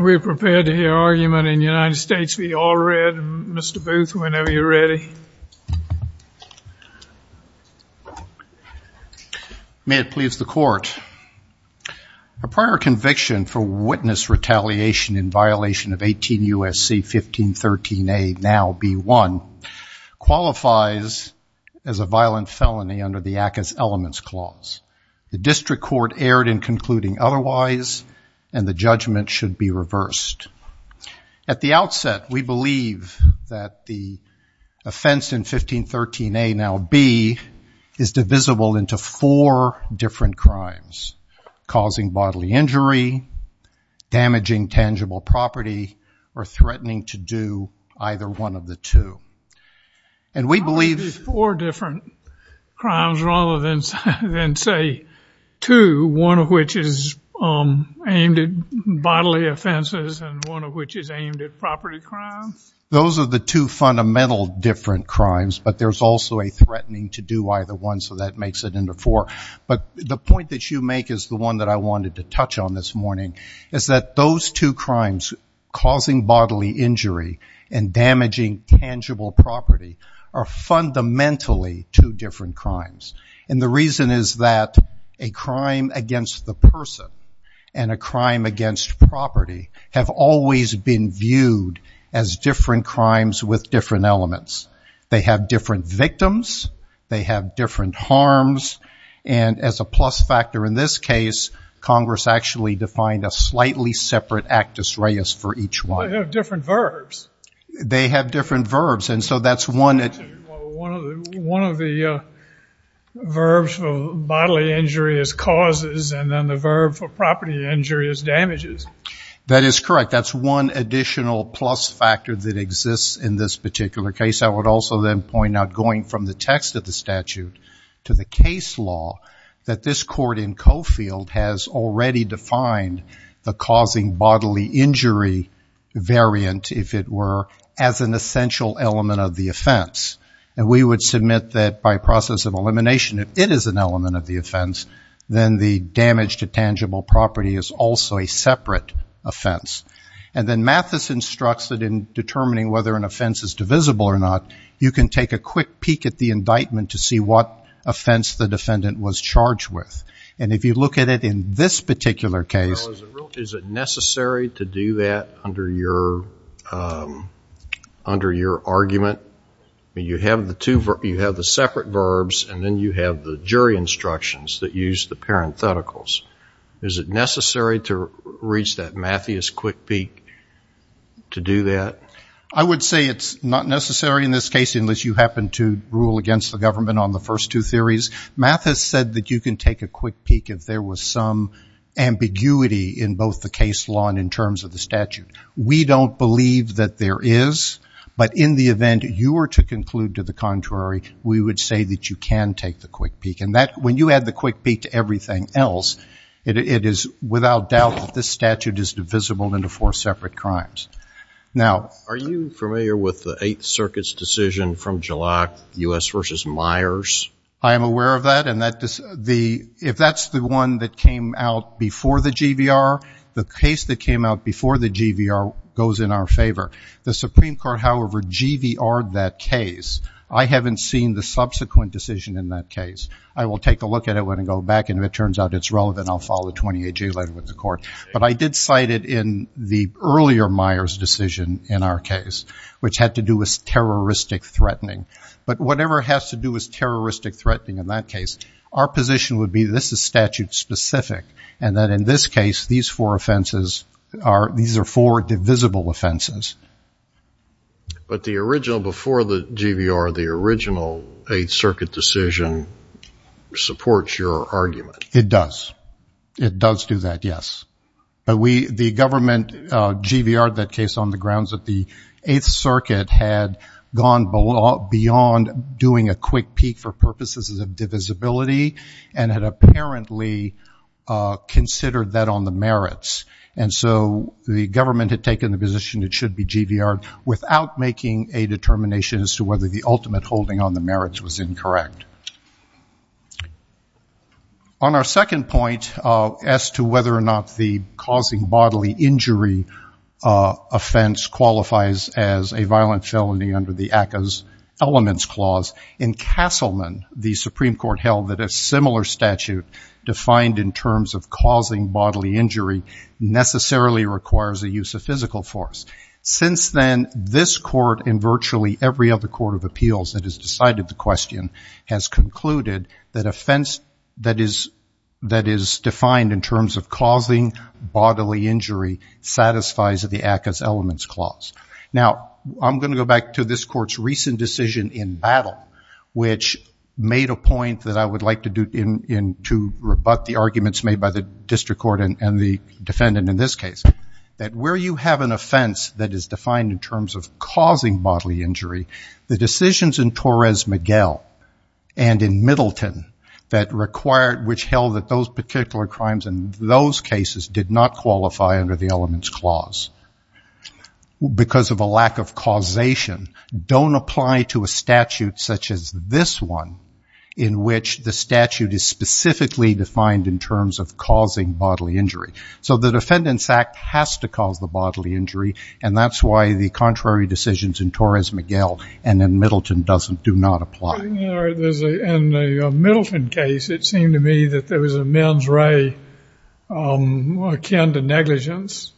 We're prepared to hear argument in the United States v. Allred. Mr. Booth, whenever you're ready. May it please the court. A prior conviction for witness retaliation in violation of 18 U.S.C. 1513A, now B1, qualifies as a violent felony under the ACCA's elements clause. The district court erred in concluding otherwise, and the judgment should be reversed. At the outset, we believe that the offense in 1513A, now B, is divisible into four different crimes. Causing bodily injury, damaging tangible property, or threatening to do either one of the two. And we believe- How is it four different crimes rather than, say, two, one of which is aimed at bodily offenses and one of which is aimed at property crimes? Those are the two fundamental different crimes, but there's also a threatening to do either one, so that makes it into four. But the point that you make is the one that I wanted to touch on this morning, is that those two crimes, causing bodily injury and damaging tangible property, are fundamentally two different crimes. And the reason is that a crime against the person and a crime against property have always been viewed as different crimes with different elements. They have different victims, they have different victims, and as a plus factor in this case, Congress actually defined a slightly separate actus reus for each one. They have different verbs. They have different verbs, and so that's one- One of the verbs for bodily injury is causes, and then the verb for property injury is damages. That is correct. That's one additional plus factor that exists in this particular case. I would also then point out, going from the text of the statute to the case law, that this court in Coffield has already defined the causing bodily injury variant, if it were, as an essential element of the offense. And we would submit that by process of elimination, if it is an element of the offense, then the damage to tangible property is also a separate offense. And then Mathis instructs that in determining whether an offense is divisible or not, you can take a quick peek at the indictment to see what offense the defendant was charged with. And if you look at it in this particular case- Is it necessary to do that under your argument? You have the separate verbs, and then you have the jury instructions that use the parentheticals. Is it necessary to reach that Mathis quick peek to do that? I would say it's not necessary in this case, unless you happen to rule against the government on the first two theories. Mathis said that you can take a quick peek if there was some ambiguity in both the case law and in terms of the statute. We don't believe that there is, but in the event you were to conclude to the contrary, we would say that you can take the quick peek. And when you add the quick peek to everything else, it is without doubt that this statute is divisible into four separate crimes. Now- Are you familiar with the Eighth Circuit's decision from Gillock, U.S. v. Myers? I am aware of that, and if that's the one that came out before the GVR, the case that came out before the GVR goes in our favor. The Supreme Court, however, GVR'd that case. I haven't seen the subsequent decision in that case. I will take a look at it when I go back, and if it turns out it's relevant, then I'll follow the 28-G letter with the court. But I did cite it in the earlier Myers decision in our case, which had to do with terroristic threatening. But whatever has to do with terroristic threatening in that case, our position would be this is statute-specific, and that in this case, these four offenses are- these are four divisible offenses. But the original- before the GVR, the original Eighth Circuit decision supports your argument. It does. It does do that, yes. But we- the government GVR'd that case on the grounds that the Eighth Circuit had gone beyond doing a quick peek for purposes of divisibility, and had apparently considered that on the merits. And so the government had taken the position it should be GVR'd without making a On our second point as to whether or not the causing bodily injury offense qualifies as a violent felony under the ACCA's Elements Clause, in Castleman, the Supreme Court held that a similar statute defined in terms of causing bodily injury necessarily requires the use of physical force. Since then, this court and virtually every other court of appeals that has decided the question has concluded that offense that is- that is defined in terms of causing bodily injury satisfies the ACCA's Elements Clause. Now, I'm going to go back to this court's recent decision in battle, which made a point that I would like to do in- rebut the arguments made by the district court and the defendant in this case. That where you have an offense that is defined in terms of causing bodily injury, the decisions in Torres-Miguel and in Middleton that required- which held that those particular crimes in those cases did not qualify under the Elements Clause because of a lack of causation, don't apply to a statute such as this one in which the statute is specifically defined in terms of causing bodily injury. So the Defendant's Act has to cause the bodily injury and that's why the contrary decisions in Torres-Miguel and in Middleton doesn't- do not apply. In the Middleton case, it seemed to me that there was a men's ray akin to negligence.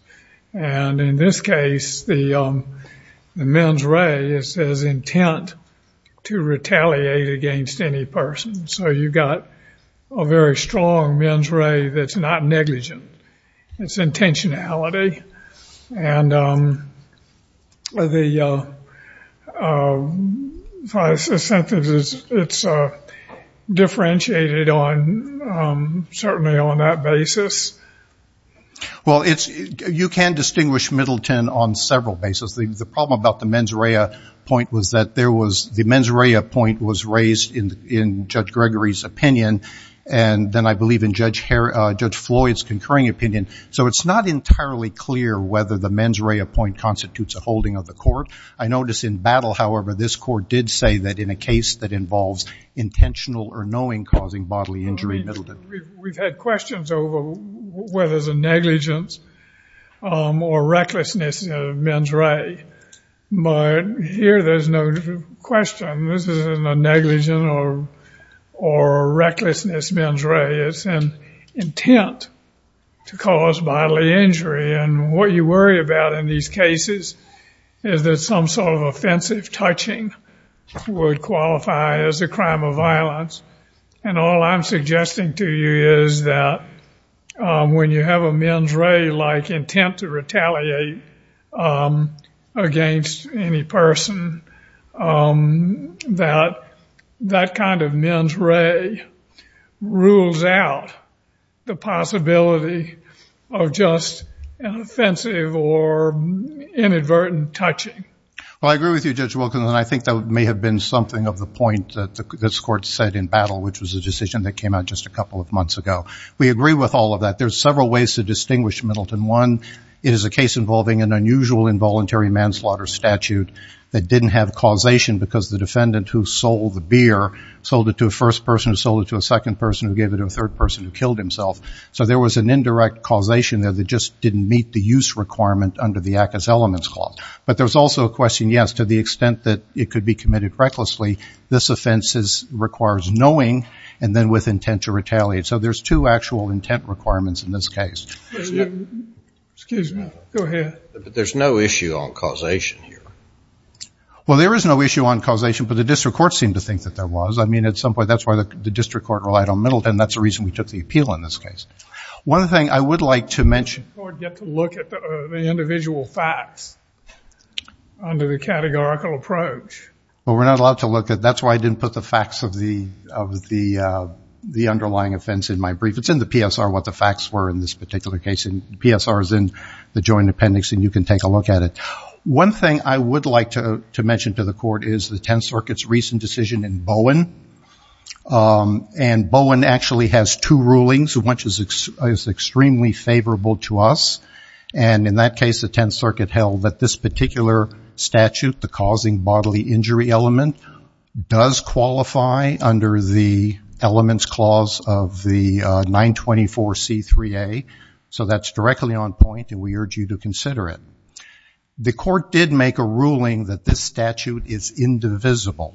And in this case, the men's ray is as intent to retaliate against any person. So you've got a very strong men's ray that's not negligent. It's intentionality. And the sentence is- it's differentiated on- certainly on that basis. Well, it's- you can distinguish Middleton on several basis. The problem about the men's ray point was that there was- the men's ray point was raised in Judge Gregory's opinion and then I believe in Judge Floyd's concurring opinion. So it's not entirely clear whether the men's ray point constitutes a holding of the court. I notice in battle, however, this court did say that in a case that involves intentional or knowing causing bodily injury in Middleton. We've had questions over whether it's a negligence or recklessness men's ray. But here, there's no question. This isn't a negligence or recklessness men's ray. It's an intent to cause bodily injury. And what you worry about in these cases is that some sort of offensive touching would qualify as a crime of violence. And all I'm suggesting to you is that when you have a men's ray like intent to retaliate against any person, that that kind of men's ray rules out the possibility of just an offensive or inadvertent touching. Well, I agree with you, Judge Wilkins. And I think that may have been something of the point that this court said in battle, which was a decision that came out just a couple of months ago. We agree with all of that. There's several ways to distinguish Middleton. One, it is a case involving an unusual involuntary manslaughter statute that didn't have causation because the defendant who sold the beer sold it to a first person who sold it to a second person who gave it to a third person who killed himself. So there was an indirect causation there that just didn't meet the use requirement under the Accus Elements Clause. But there's also a question, yes, to the extent that it could be committed recklessly, this offense requires knowing and then with intent to retaliate. So there's two actual intent requirements in this case. Excuse me. Go ahead. There's no issue on causation here. Well, there is no issue on causation, but the district court seemed to think that there was. I mean, at some point, that's why the district court relied on Middleton. That's the reason we took the appeal in this case. One thing I would like to mention. You don't get to look at the individual facts under the categorical approach. That's why I didn't put the facts of the underlying offense in my brief. It's in the PSR what the facts were in this particular case. PSR is in the Joint Appendix, and you can take a look at it. One thing I would like to mention to the court is the Tenth Circuit's recent decision in Bowen. And Bowen actually has two rulings, which is extremely favorable to us. And in that case, the Tenth Circuit held that this particular statute, the causing bodily injury element, does qualify under the Elements Clause of the 924C3A. So that's directly on point, and we urge you to consider it. The court did make a ruling that this statute is indivisible.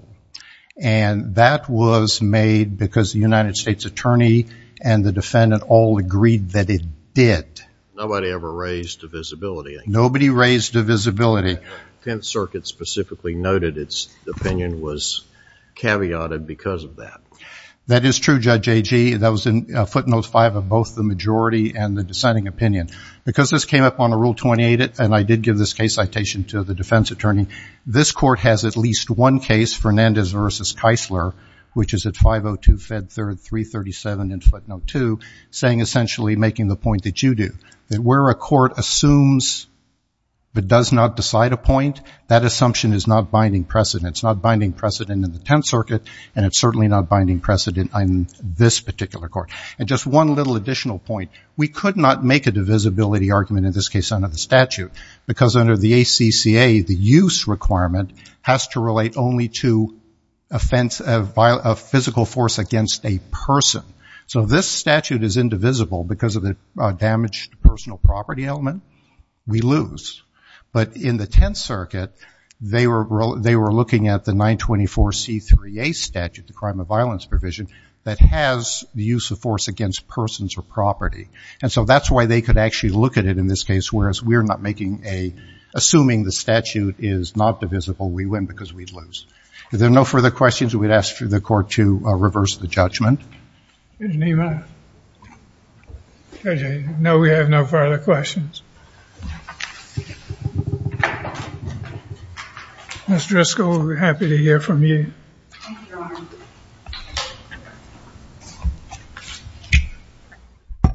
And that was made because the United States Attorney and the defendant all agreed that it did. Nobody ever raised divisibility. Nobody raised divisibility. The Tenth Circuit specifically noted its opinion was caveated because of that. That is true, Judge Agee. That was footnote five of both the majority and the dissenting opinion. Because this came up on a Rule 28, and I did give this case citation to the defense attorney, this court has at least one case, Fernandez v. Keisler, which is at 502 Fed 3337 in footnote two, saying essentially, making the point that you do, that where a court assumes but does not decide a point, that assumption is not binding precedent. It's not binding precedent in the Tenth Circuit, and it's certainly not binding precedent in this particular court. And just one little additional point. We could not make a divisibility argument in this case under the statute. Because under the ACCA, the use requirement has to relate only to offense of physical force against a person. So this statute is indivisible because of the damaged personal property element. We lose. But in the Tenth Circuit, they were looking at the 924C3A statute, the crime of violence provision, that has the use of force against persons or property. And so that's why they could actually look at it in this case, whereas we're not making a, assuming the statute is not divisible, we win because we lose. If there are no further questions, we'd ask for the court to reverse the judgment. Judge Nima? Judge, I know we have no further questions. Ms. Driscoll, we're happy to hear from you. Thank you, Your Honor. Thank you.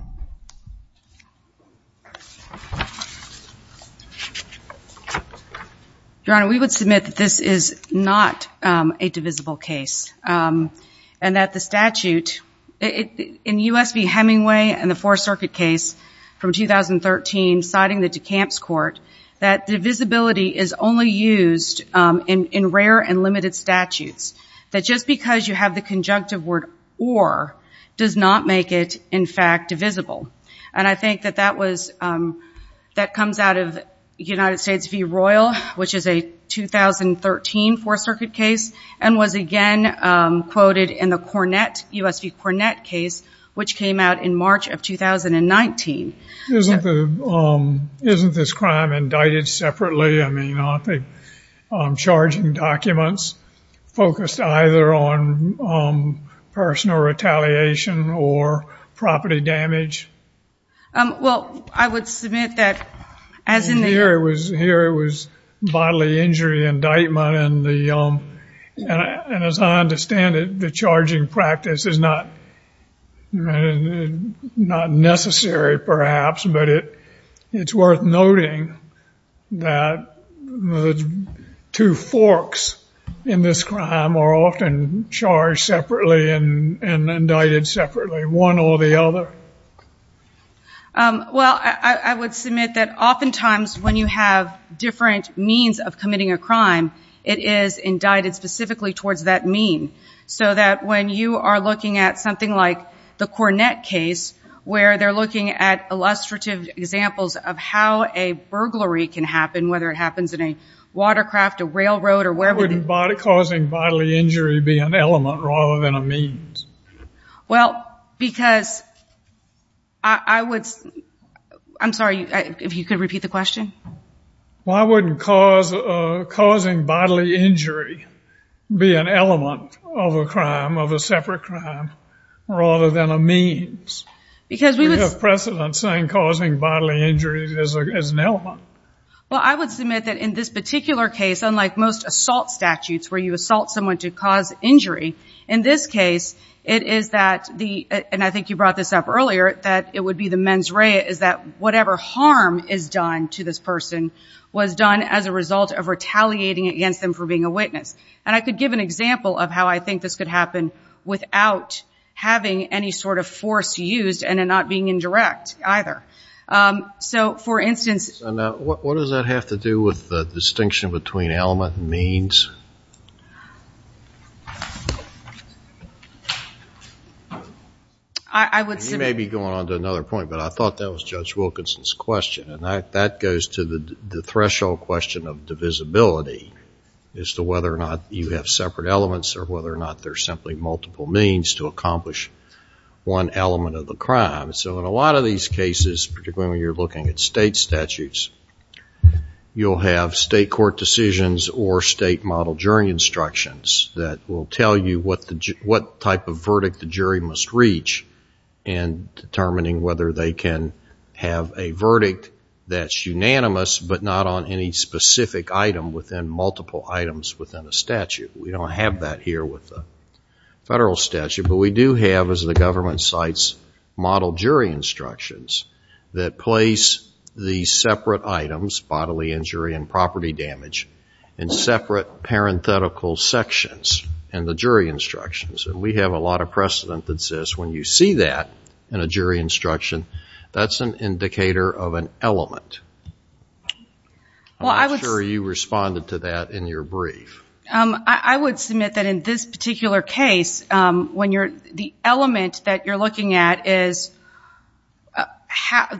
Your Honor, we would submit that this is not a divisible case. And that the statute, in U.S. v. Hemingway and the Fourth Circuit case from 2013, citing the DeKalb's court, that divisibility is only used in rare and limited statutes. That just because you have the conjunctive word, or, does not make it, in fact, divisible. And I think that that comes out of United States v. Royal, which is a 2013 Fourth Circuit case, and was again quoted in the Cornett, U.S. v. Cornett case, which came out in March of 2019. Isn't this crime indicted separately? I mean, aren't the charging documents focused either on personal retaliation or property damage? Well, I would submit that, as in the... Here it was bodily injury indictment, and as I understand it, the charging practice is not necessary, perhaps, but it's worth noting that the two forks in this crime are often charged separately and indicted separately, one or the other. Well, I would submit that oftentimes, when you have different means of committing a crime, it is indicted specifically towards that mean. So that when you are looking at something like the Cornett case, where they're looking at illustrative examples of how a burglary can happen, whether it happens in a watercraft, a railroad, or wherever... Why wouldn't causing bodily injury be an element rather than a means? Well, because... I would... I'm sorry, if you could repeat the question? Why wouldn't causing bodily injury be an element of a crime, rather than a means? Because we would... You have precedent saying causing bodily injury is an element. Well, I would submit that in this particular case, unlike most assault statutes where you assault someone to cause injury, in this case, it is that the... And I think you brought this up earlier, that it would be the mens rea, is that whatever harm is done to this person was done as a result of retaliating against them for being a witness. And I could give an example of how I think this could happen without having any sort of force used and it not being indirect either. So, for instance... What does that have to do with the distinction between element and means? I would submit... You may be going on to another point, but I thought that was Judge Wilkinson's question, and that goes to the threshold question of divisibility, as to whether or not you have separate elements or whether or not there's simply multiple means to accomplish one element of the crime. So, in a lot of these cases, particularly when you're looking at state statutes, you'll have state court decisions or state model jury instructions that will tell you what type of verdict the jury must reach in determining whether they can have a verdict that's unanimous, but not on any specific item within multiple items within a statute. We don't have that here with the federal statute, but we do have, as the government cites, model jury instructions that place the separate items, bodily injury and property damage, in separate parenthetical sections in the jury instructions. And we have a lot of precedent that says when you see that in a jury instruction, that's an indicator of an element. I'm not sure you responded to that in your brief. I would submit that in this particular case, the element that you're looking at is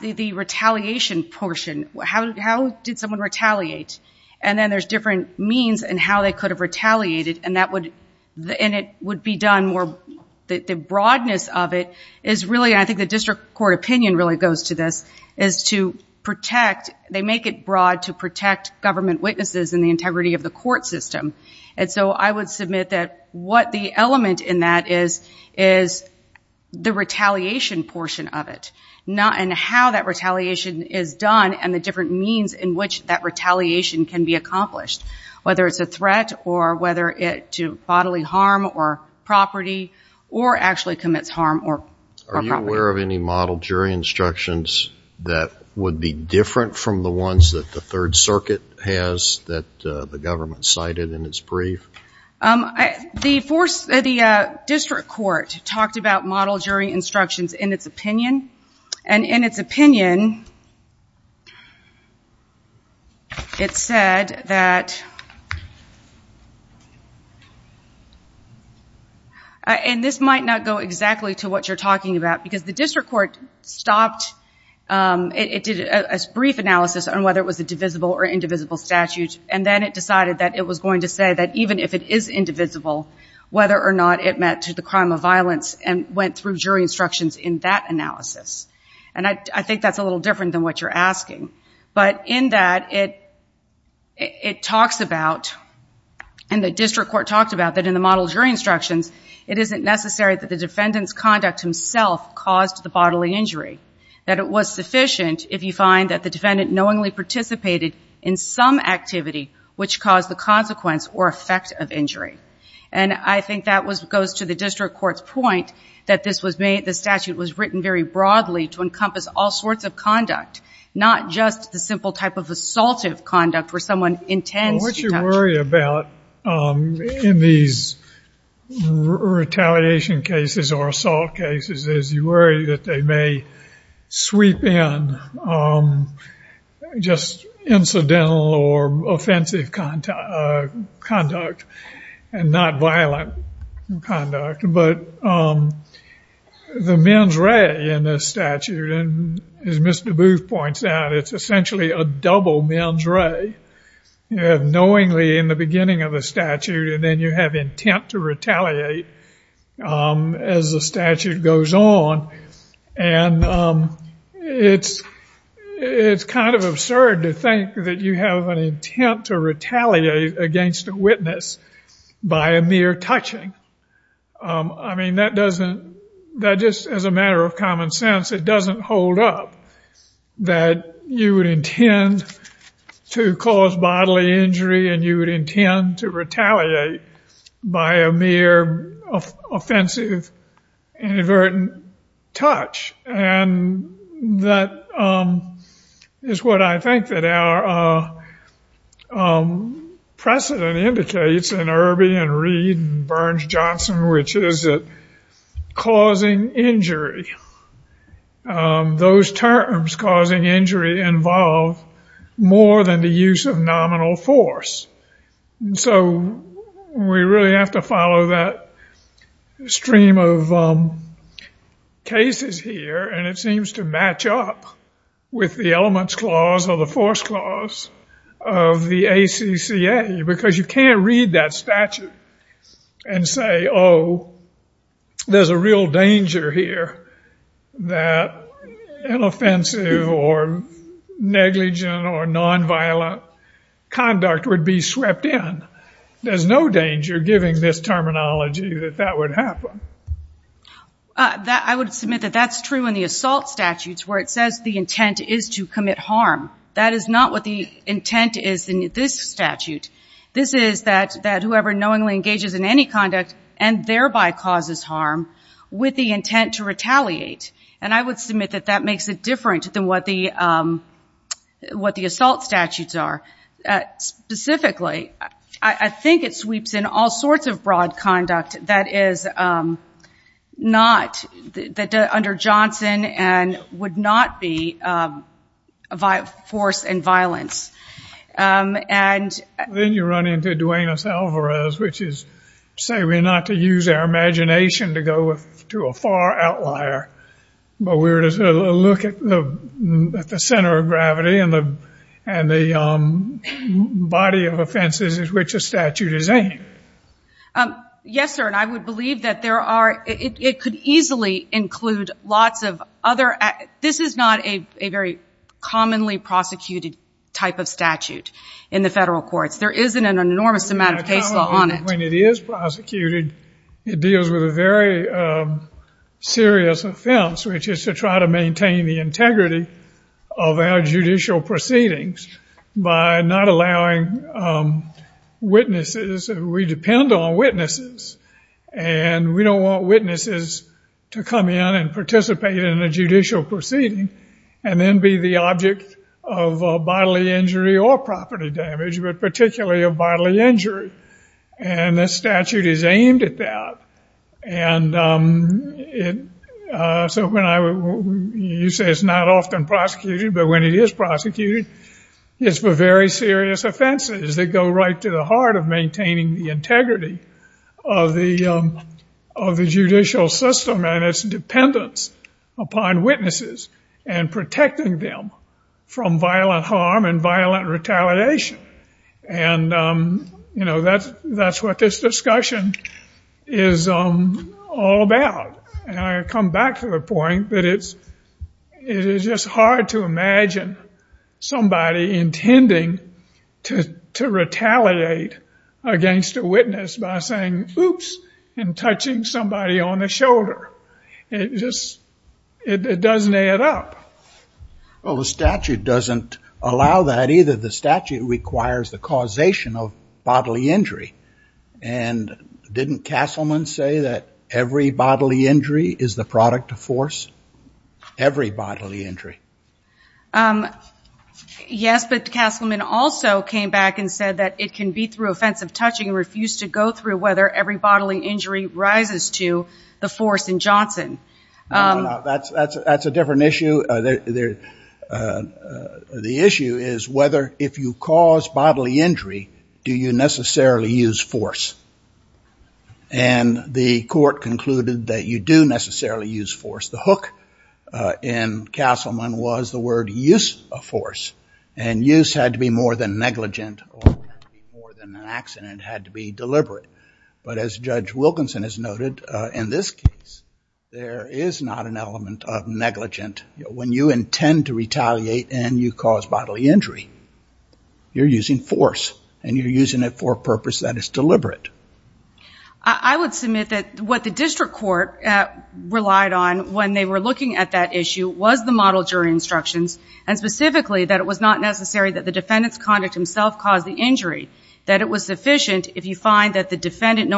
the retaliation portion. How did someone retaliate? And then there's different means in how they could have retaliated, and the broadness of it is really, and I think the district court opinion really goes to this, is to protect, they make it broad to protect government witnesses and the integrity of the court system. And so I would submit that what the element in that is, is the retaliation portion of it. And how that retaliation is done, and the different means in which that retaliation can be accomplished. Whether it's a threat, or whether it's bodily harm or property, or actually commits harm or property. Are you aware of any model jury instructions that would be different from the ones that the Third Circuit has, that the government cited in its brief? The district court talked about model jury instructions in its opinion. And in its opinion, it said that, and this might not go exactly to what you're talking about, because the district court stopped, it did a brief analysis on whether it was a divisible or indivisible statute, and then it decided that it was going to say that even if it is indivisible, whether or not it met to the crime of violence, and went through jury instructions in that analysis. And I think that's a little different than what you're asking. But in that, it talks about, and the district court talked about that in the model jury instructions, it isn't necessary that the defendant's conduct himself caused the bodily injury, that it was sufficient if you find that the defendant knowingly participated in some activity which caused the consequence or effect of injury. And I think that goes to the district court's point that the statute was written very broadly to encompass all sorts of conduct, not just the simple type of assaultive conduct where someone intends to touch you. What you worry about in these retaliation cases or assault cases is you worry that they may sweep in just incidental or offensive conduct, and not violent conduct. But the mens rea in this statute, and as Mr. Booth points out, it's essentially a double mens rea. You have knowingly in the beginning of the statute, and then you have intent to retaliate as the statute goes on. And it's kind of absurd to think that you have an intent to retaliate against a witness by a mere touching. I mean, that doesn't, that just as a matter of common sense, it doesn't hold up that you would intend to cause bodily injury and you would intend to retaliate by a mere offensive inadvertent touch. And that is what I think that our precedent indicates in Irby and Reed and Burns-Johnson, which is that causing injury, those terms causing injury involve more than the use of nominal force. So we really have to follow that stream of cases here, and it seems to match up with the elements clause or the force clause of the ACCA, because you can't read that statute and say, oh, there's a real danger here that an offensive or negligent or nonviolent conduct would be swept in. There's no danger, given this terminology, that that would happen. I would submit that that's true in the assault statutes, where it says the intent is to commit harm. That is not what the intent is in this statute. This is that whoever knowingly engages in any conduct and thereby causes harm with the intent to retaliate. And I would submit that that makes it different than what the assault statutes are. Specifically, I think it sweeps in all sorts of broad conduct that under Johnson would not be force and violence. Then you run into Duenas-Alvarez, which is, say, we're not to use our imagination to go to a far outlier, but we're to look at the center of gravity and the body of offenses at which a statute is aimed. Yes, sir. And I would believe that it could easily include lots of other... This is not a very commonly prosecuted type of statute in the federal courts. There isn't an enormous amount of case law on it. When it is prosecuted, it deals with a very serious offense, which is to try to maintain the integrity of our judicial proceedings by not allowing witnesses... We depend on witnesses, and we don't want witnesses to come in and participate in a judicial proceeding and then be the object of bodily injury or property damage, but particularly of bodily injury. And this statute is aimed at that. And so when I... You say it's not often prosecuted, but when it is prosecuted, it's for very serious offenses that go right to the heart of maintaining the integrity of the judicial system and its dependence upon witnesses and protecting them from violent harm and violent retaliation. And, you know, that's what this discussion is all about. And I come back to the point that it is just hard to imagine somebody intending to retaliate against a witness by saying, oops, and touching somebody on the shoulder. It just... It doesn't add up. Well, the statute doesn't allow that either. The statute requires the causation of bodily injury. And didn't Castleman say that every bodily injury is the product of force? Every bodily injury. Yes, but Castleman also came back and said that it can be through offensive touching and refused to go through whether every bodily injury rises to the force in Johnson. That's a different issue. The issue is whether, if you cause bodily injury, do you necessarily use force? And the court concluded that you do necessarily use force. The hook in Castleman was the word use of force. And use had to be more than negligent or more than an accident. It had to be deliberate. But as Judge Wilkinson has noted, in this case, there is not an element of negligent. When you intend to retaliate and you cause bodily injury, you're using force. And you're using it for a purpose that is deliberate. I would submit that what the district court relied on when they were looking at that issue was the model jury instructions, and specifically that it was not necessary that the defendant's conduct himself caused the injury, that it was sufficient if you find that the defendant,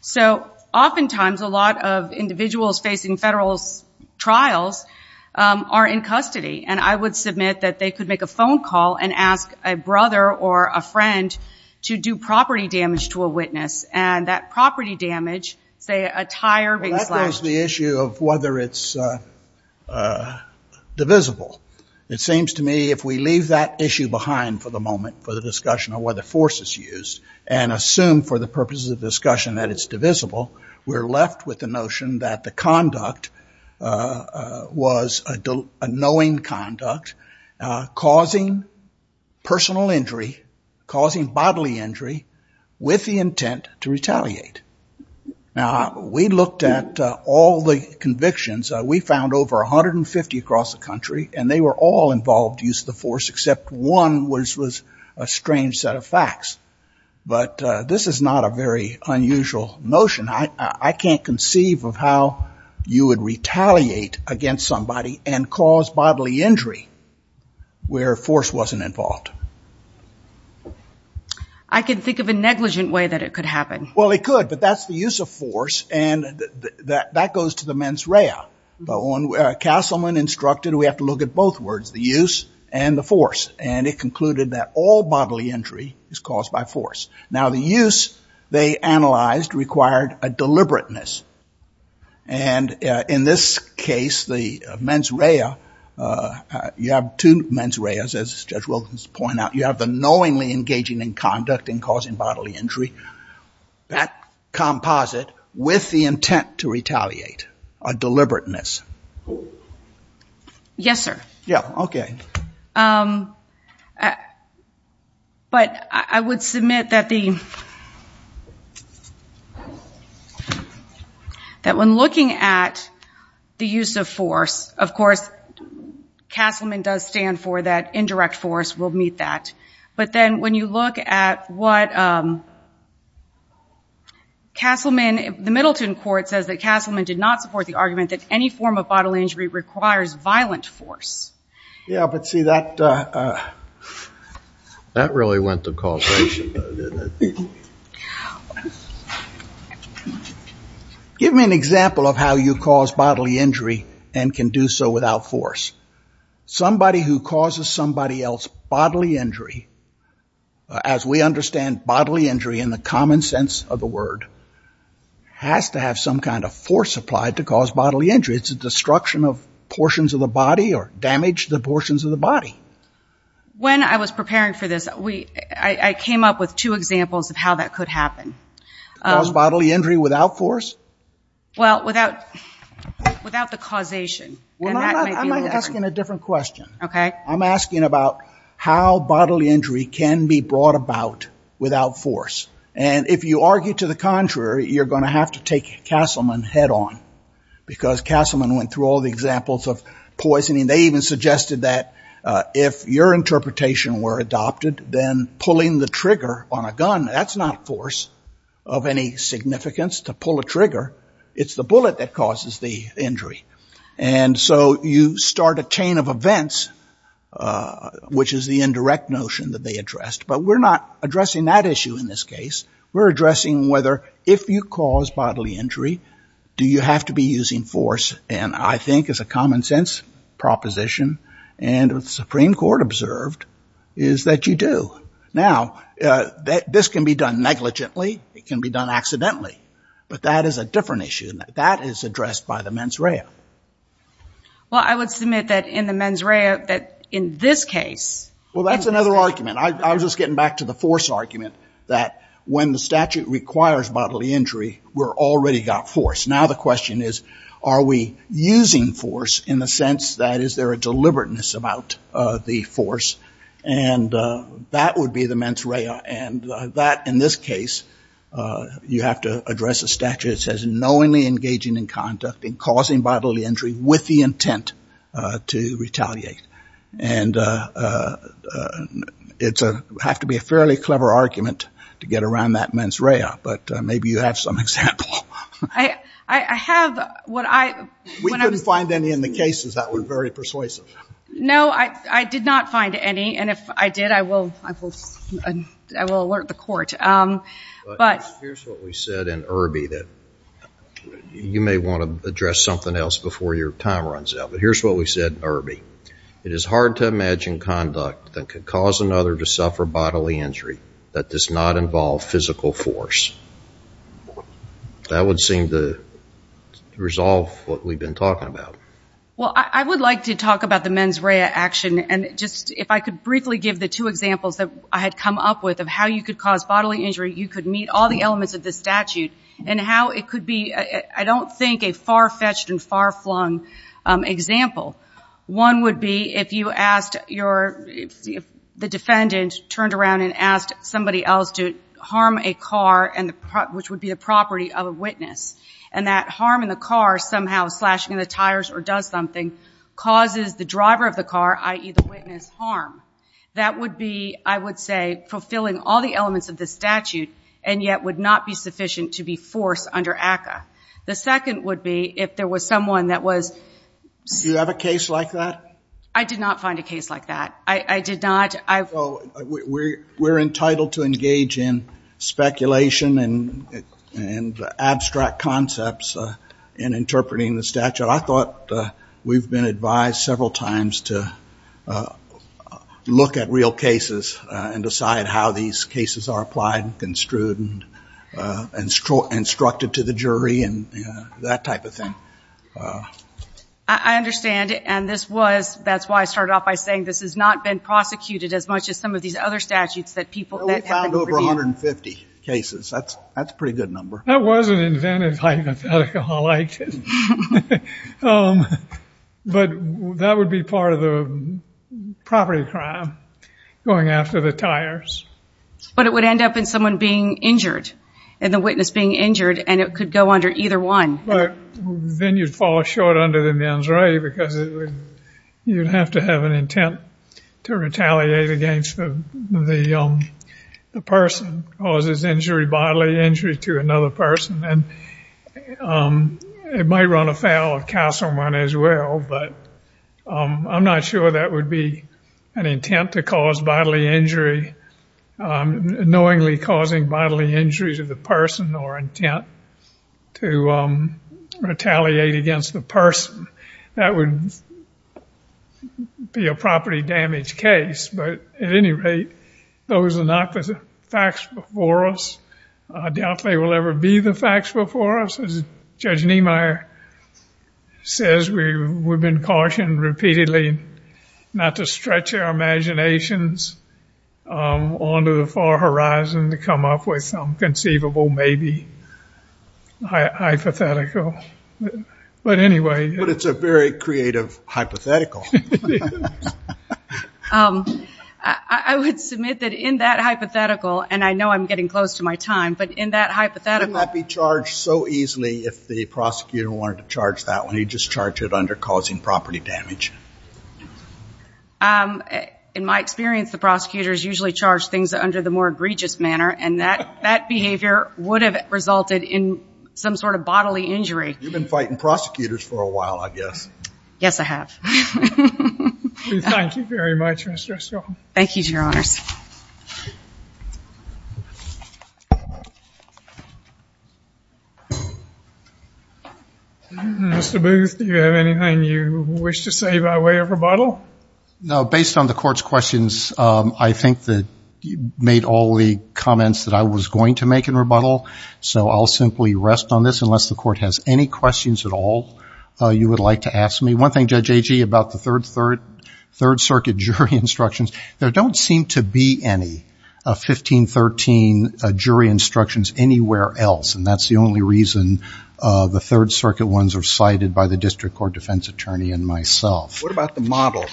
So oftentimes, a lot of individuals facing federal trials are in custody. And I would submit that they could make a phone call and ask a brother or a friend to do property damage to a witness. And that property damage, say a tire being slashed. Well, that raises the issue of whether it's divisible. It seems to me if we leave that issue behind for the moment for the discussion of whether force is used, and assume for the purposes of discussion that it's divisible, we're left with the notion that the conduct was a knowing conduct, causing personal injury, causing bodily injury, with the intent to retaliate. Now, we looked at all the convictions. We found over 150 across the country. And they were all involved in use of the force, except one was a strange set of facts. But this is not a very unusual notion. I can't conceive of how you would retaliate against somebody and cause bodily injury where force wasn't involved. I can think of a negligent way that it could happen. Well, it could, but that's the use of force, and that goes to the mens rea. Castleman instructed we have to look at both words, the use and the force. And it concluded that all bodily injury is caused by force. Now, the use, they analyzed, required a deliberateness. And in this case, the mens rea, you have two mens reas, as Judge Wilkins pointed out. You have the knowingly engaging in conduct and causing bodily injury. That composite, with the intent to retaliate, a deliberateness. Yes, sir. Yeah, okay. But I would submit that the... That when looking at the use of force, of course, Castleman does stand for that indirect force. We'll meet that. But then when you look at what Castleman, the Middleton court says that Castleman did not support the argument that any form of bodily injury requires violent force. Yeah, but see, that... That really went to causation, though, didn't it? Give me an example of how you cause bodily injury and can do so without force. Somebody who causes somebody else bodily injury, as we understand bodily injury in the common sense of the word, has to have some kind of force applied to cause bodily injury. It's a destruction of portions of the body or damage to the portions of the body. When I was preparing for this, I came up with two examples of how that could happen. To cause bodily injury without force? Well, without the causation. I'm not asking a different question. Okay. I'm asking about how bodily injury can be brought about without force. And if you argue to the contrary, you're going to have to take Castleman head-on. Because Castleman went through all the examples of poisoning. They even suggested that if your interpretation were adopted, then pulling the trigger on a gun, that's not force of any significance to pull a trigger. It's the bullet that causes the injury. And so you start a chain of events, which is the indirect notion that they addressed. But we're not addressing that issue in this case. We're addressing whether if you cause bodily injury, do you have to be using force? And I think it's a common-sense proposition. And what the Supreme Court observed is that you do. Now, this can be done negligently. It can be done accidentally. But that is a different issue. That is addressed by the mens rea. Well, I would submit that in the mens rea, that in this case... Well, that's another argument. I was just getting back to the force argument, that when the statute requires bodily injury, we're already got force. Now the question is, are we using force in the sense that is there a deliberateness about the force? And that would be the mens rea. And that, in this case, you have to address a statute that says knowingly engaging in conduct and causing bodily injury with the intent to retaliate. And it would have to be a fairly clever argument to get around that mens rea. But maybe you have some example. I have what I... We didn't find any in the cases that were very persuasive. No, I did not find any. And if I did, I will alert the court. Here's what we said in Irby that... You may want to address something else before your time runs out. But here's what we said in Irby. It is hard to imagine conduct that could cause another to suffer bodily injury that does not involve physical force. That would seem to resolve what we've been talking about. Well, I would like to talk about the mens rea action. And just if I could briefly give the two examples that I had come up with of how you could cause bodily injury, you could meet all the elements of the statute. And how it could be... I don't think a far-fetched and far-flung example. One would be if you asked your... The defendant turned around and asked somebody else to harm a car, which would be the property of a witness. And that harm in the car, somehow slashing the tires or does something, causes the driver of the car, i.e. the witness, harm. That would be, I would say, fulfilling all the elements of the statute, and yet would not be sufficient to be forced under ACCA. The second would be if there was someone that was... Do you have a case like that? I did not find a case like that. I did not... We're entitled to engage in speculation and abstract concepts in interpreting the statute. I thought we've been advised several times to look at real cases and decide how these cases are applied and construed and instructed to the jury and that type of thing. I understand. And this was... That's why I started off by saying this has not been prosecuted as much as some of these other statutes that people... We found over 150 cases. That's a pretty good number. That was an inventive hypothetical. I liked it. But that would be part of the property crime going after the tires. But it would end up in someone being injured, and the witness being injured, and it could go under either one. Then you'd fall short under the mens re because you'd have to have an intent to retaliate against the person who causes bodily injury to another person. And it might run afoul of castle money as well, but I'm not sure that would be an intent to cause bodily injury, knowingly causing bodily injury to the person or intent to retaliate against the person. That would be a property damage case. But at any rate, those are not the facts before us. I doubt they will ever be the facts before us. As Judge Niemeyer says, we've been cautioned repeatedly not to stretch our imaginations onto the far horizon to come up with some conceivable, maybe hypothetical. But anyway... But it's a very creative hypothetical. I would submit that in that hypothetical, and I know I'm getting close to my time, but in that hypothetical... If the prosecutor wanted to charge that one, he'd just charge it under causing property damage. In my experience, the prosecutors usually charge things under the more egregious manner, and that behavior would have resulted in some sort of bodily injury. You've been fighting prosecutors for a while, I guess. Yes, I have. We thank you very much, Ms. Dreschel. Thank you to your honors. Mr. Booth, do you have anything you wish to say by way of rebuttal? No, based on the court's questions, I think that you made all the comments that I was going to make in rebuttal, so I'll simply rest on this, unless the court has any questions at all you would like to ask me. One thing, Judge Agee, about the Third Circuit jury instructions, there don't seem to be any 1513 jury instructions anywhere else, and that's the only reason the Third Circuit ones are cited by the district court defense attorney and myself. What about the model?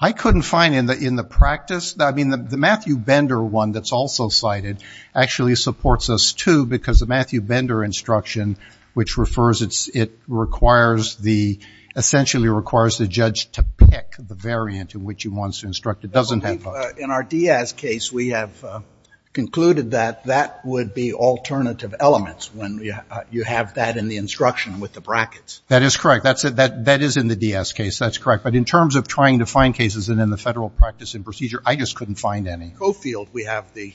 I couldn't find it in the practice. I mean, the Matthew Bender one that's also cited actually supports us, too, because the Matthew Bender instruction, which refers, it requires the... essentially requires the judge to pick the variant in which he wants to instruct. In our Diaz case, we have concluded that that would be alternative elements when you have that in the instruction with the brackets. That is correct. That is in the Diaz case. That's correct. But in terms of trying to find cases in the federal practice and procedure, I just couldn't find any. Coffield, we have the...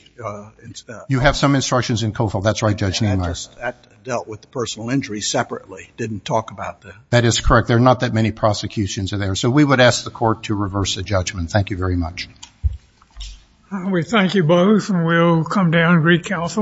You have some instructions in Coffield. That's right, Judge Neiman. That dealt with the personal injuries separately. Didn't talk about the... That is correct. There are not that many prosecutions in there, so we would ask the court to reverse the judgment. Thank you very much. We thank you both, and we'll come down and recouncil.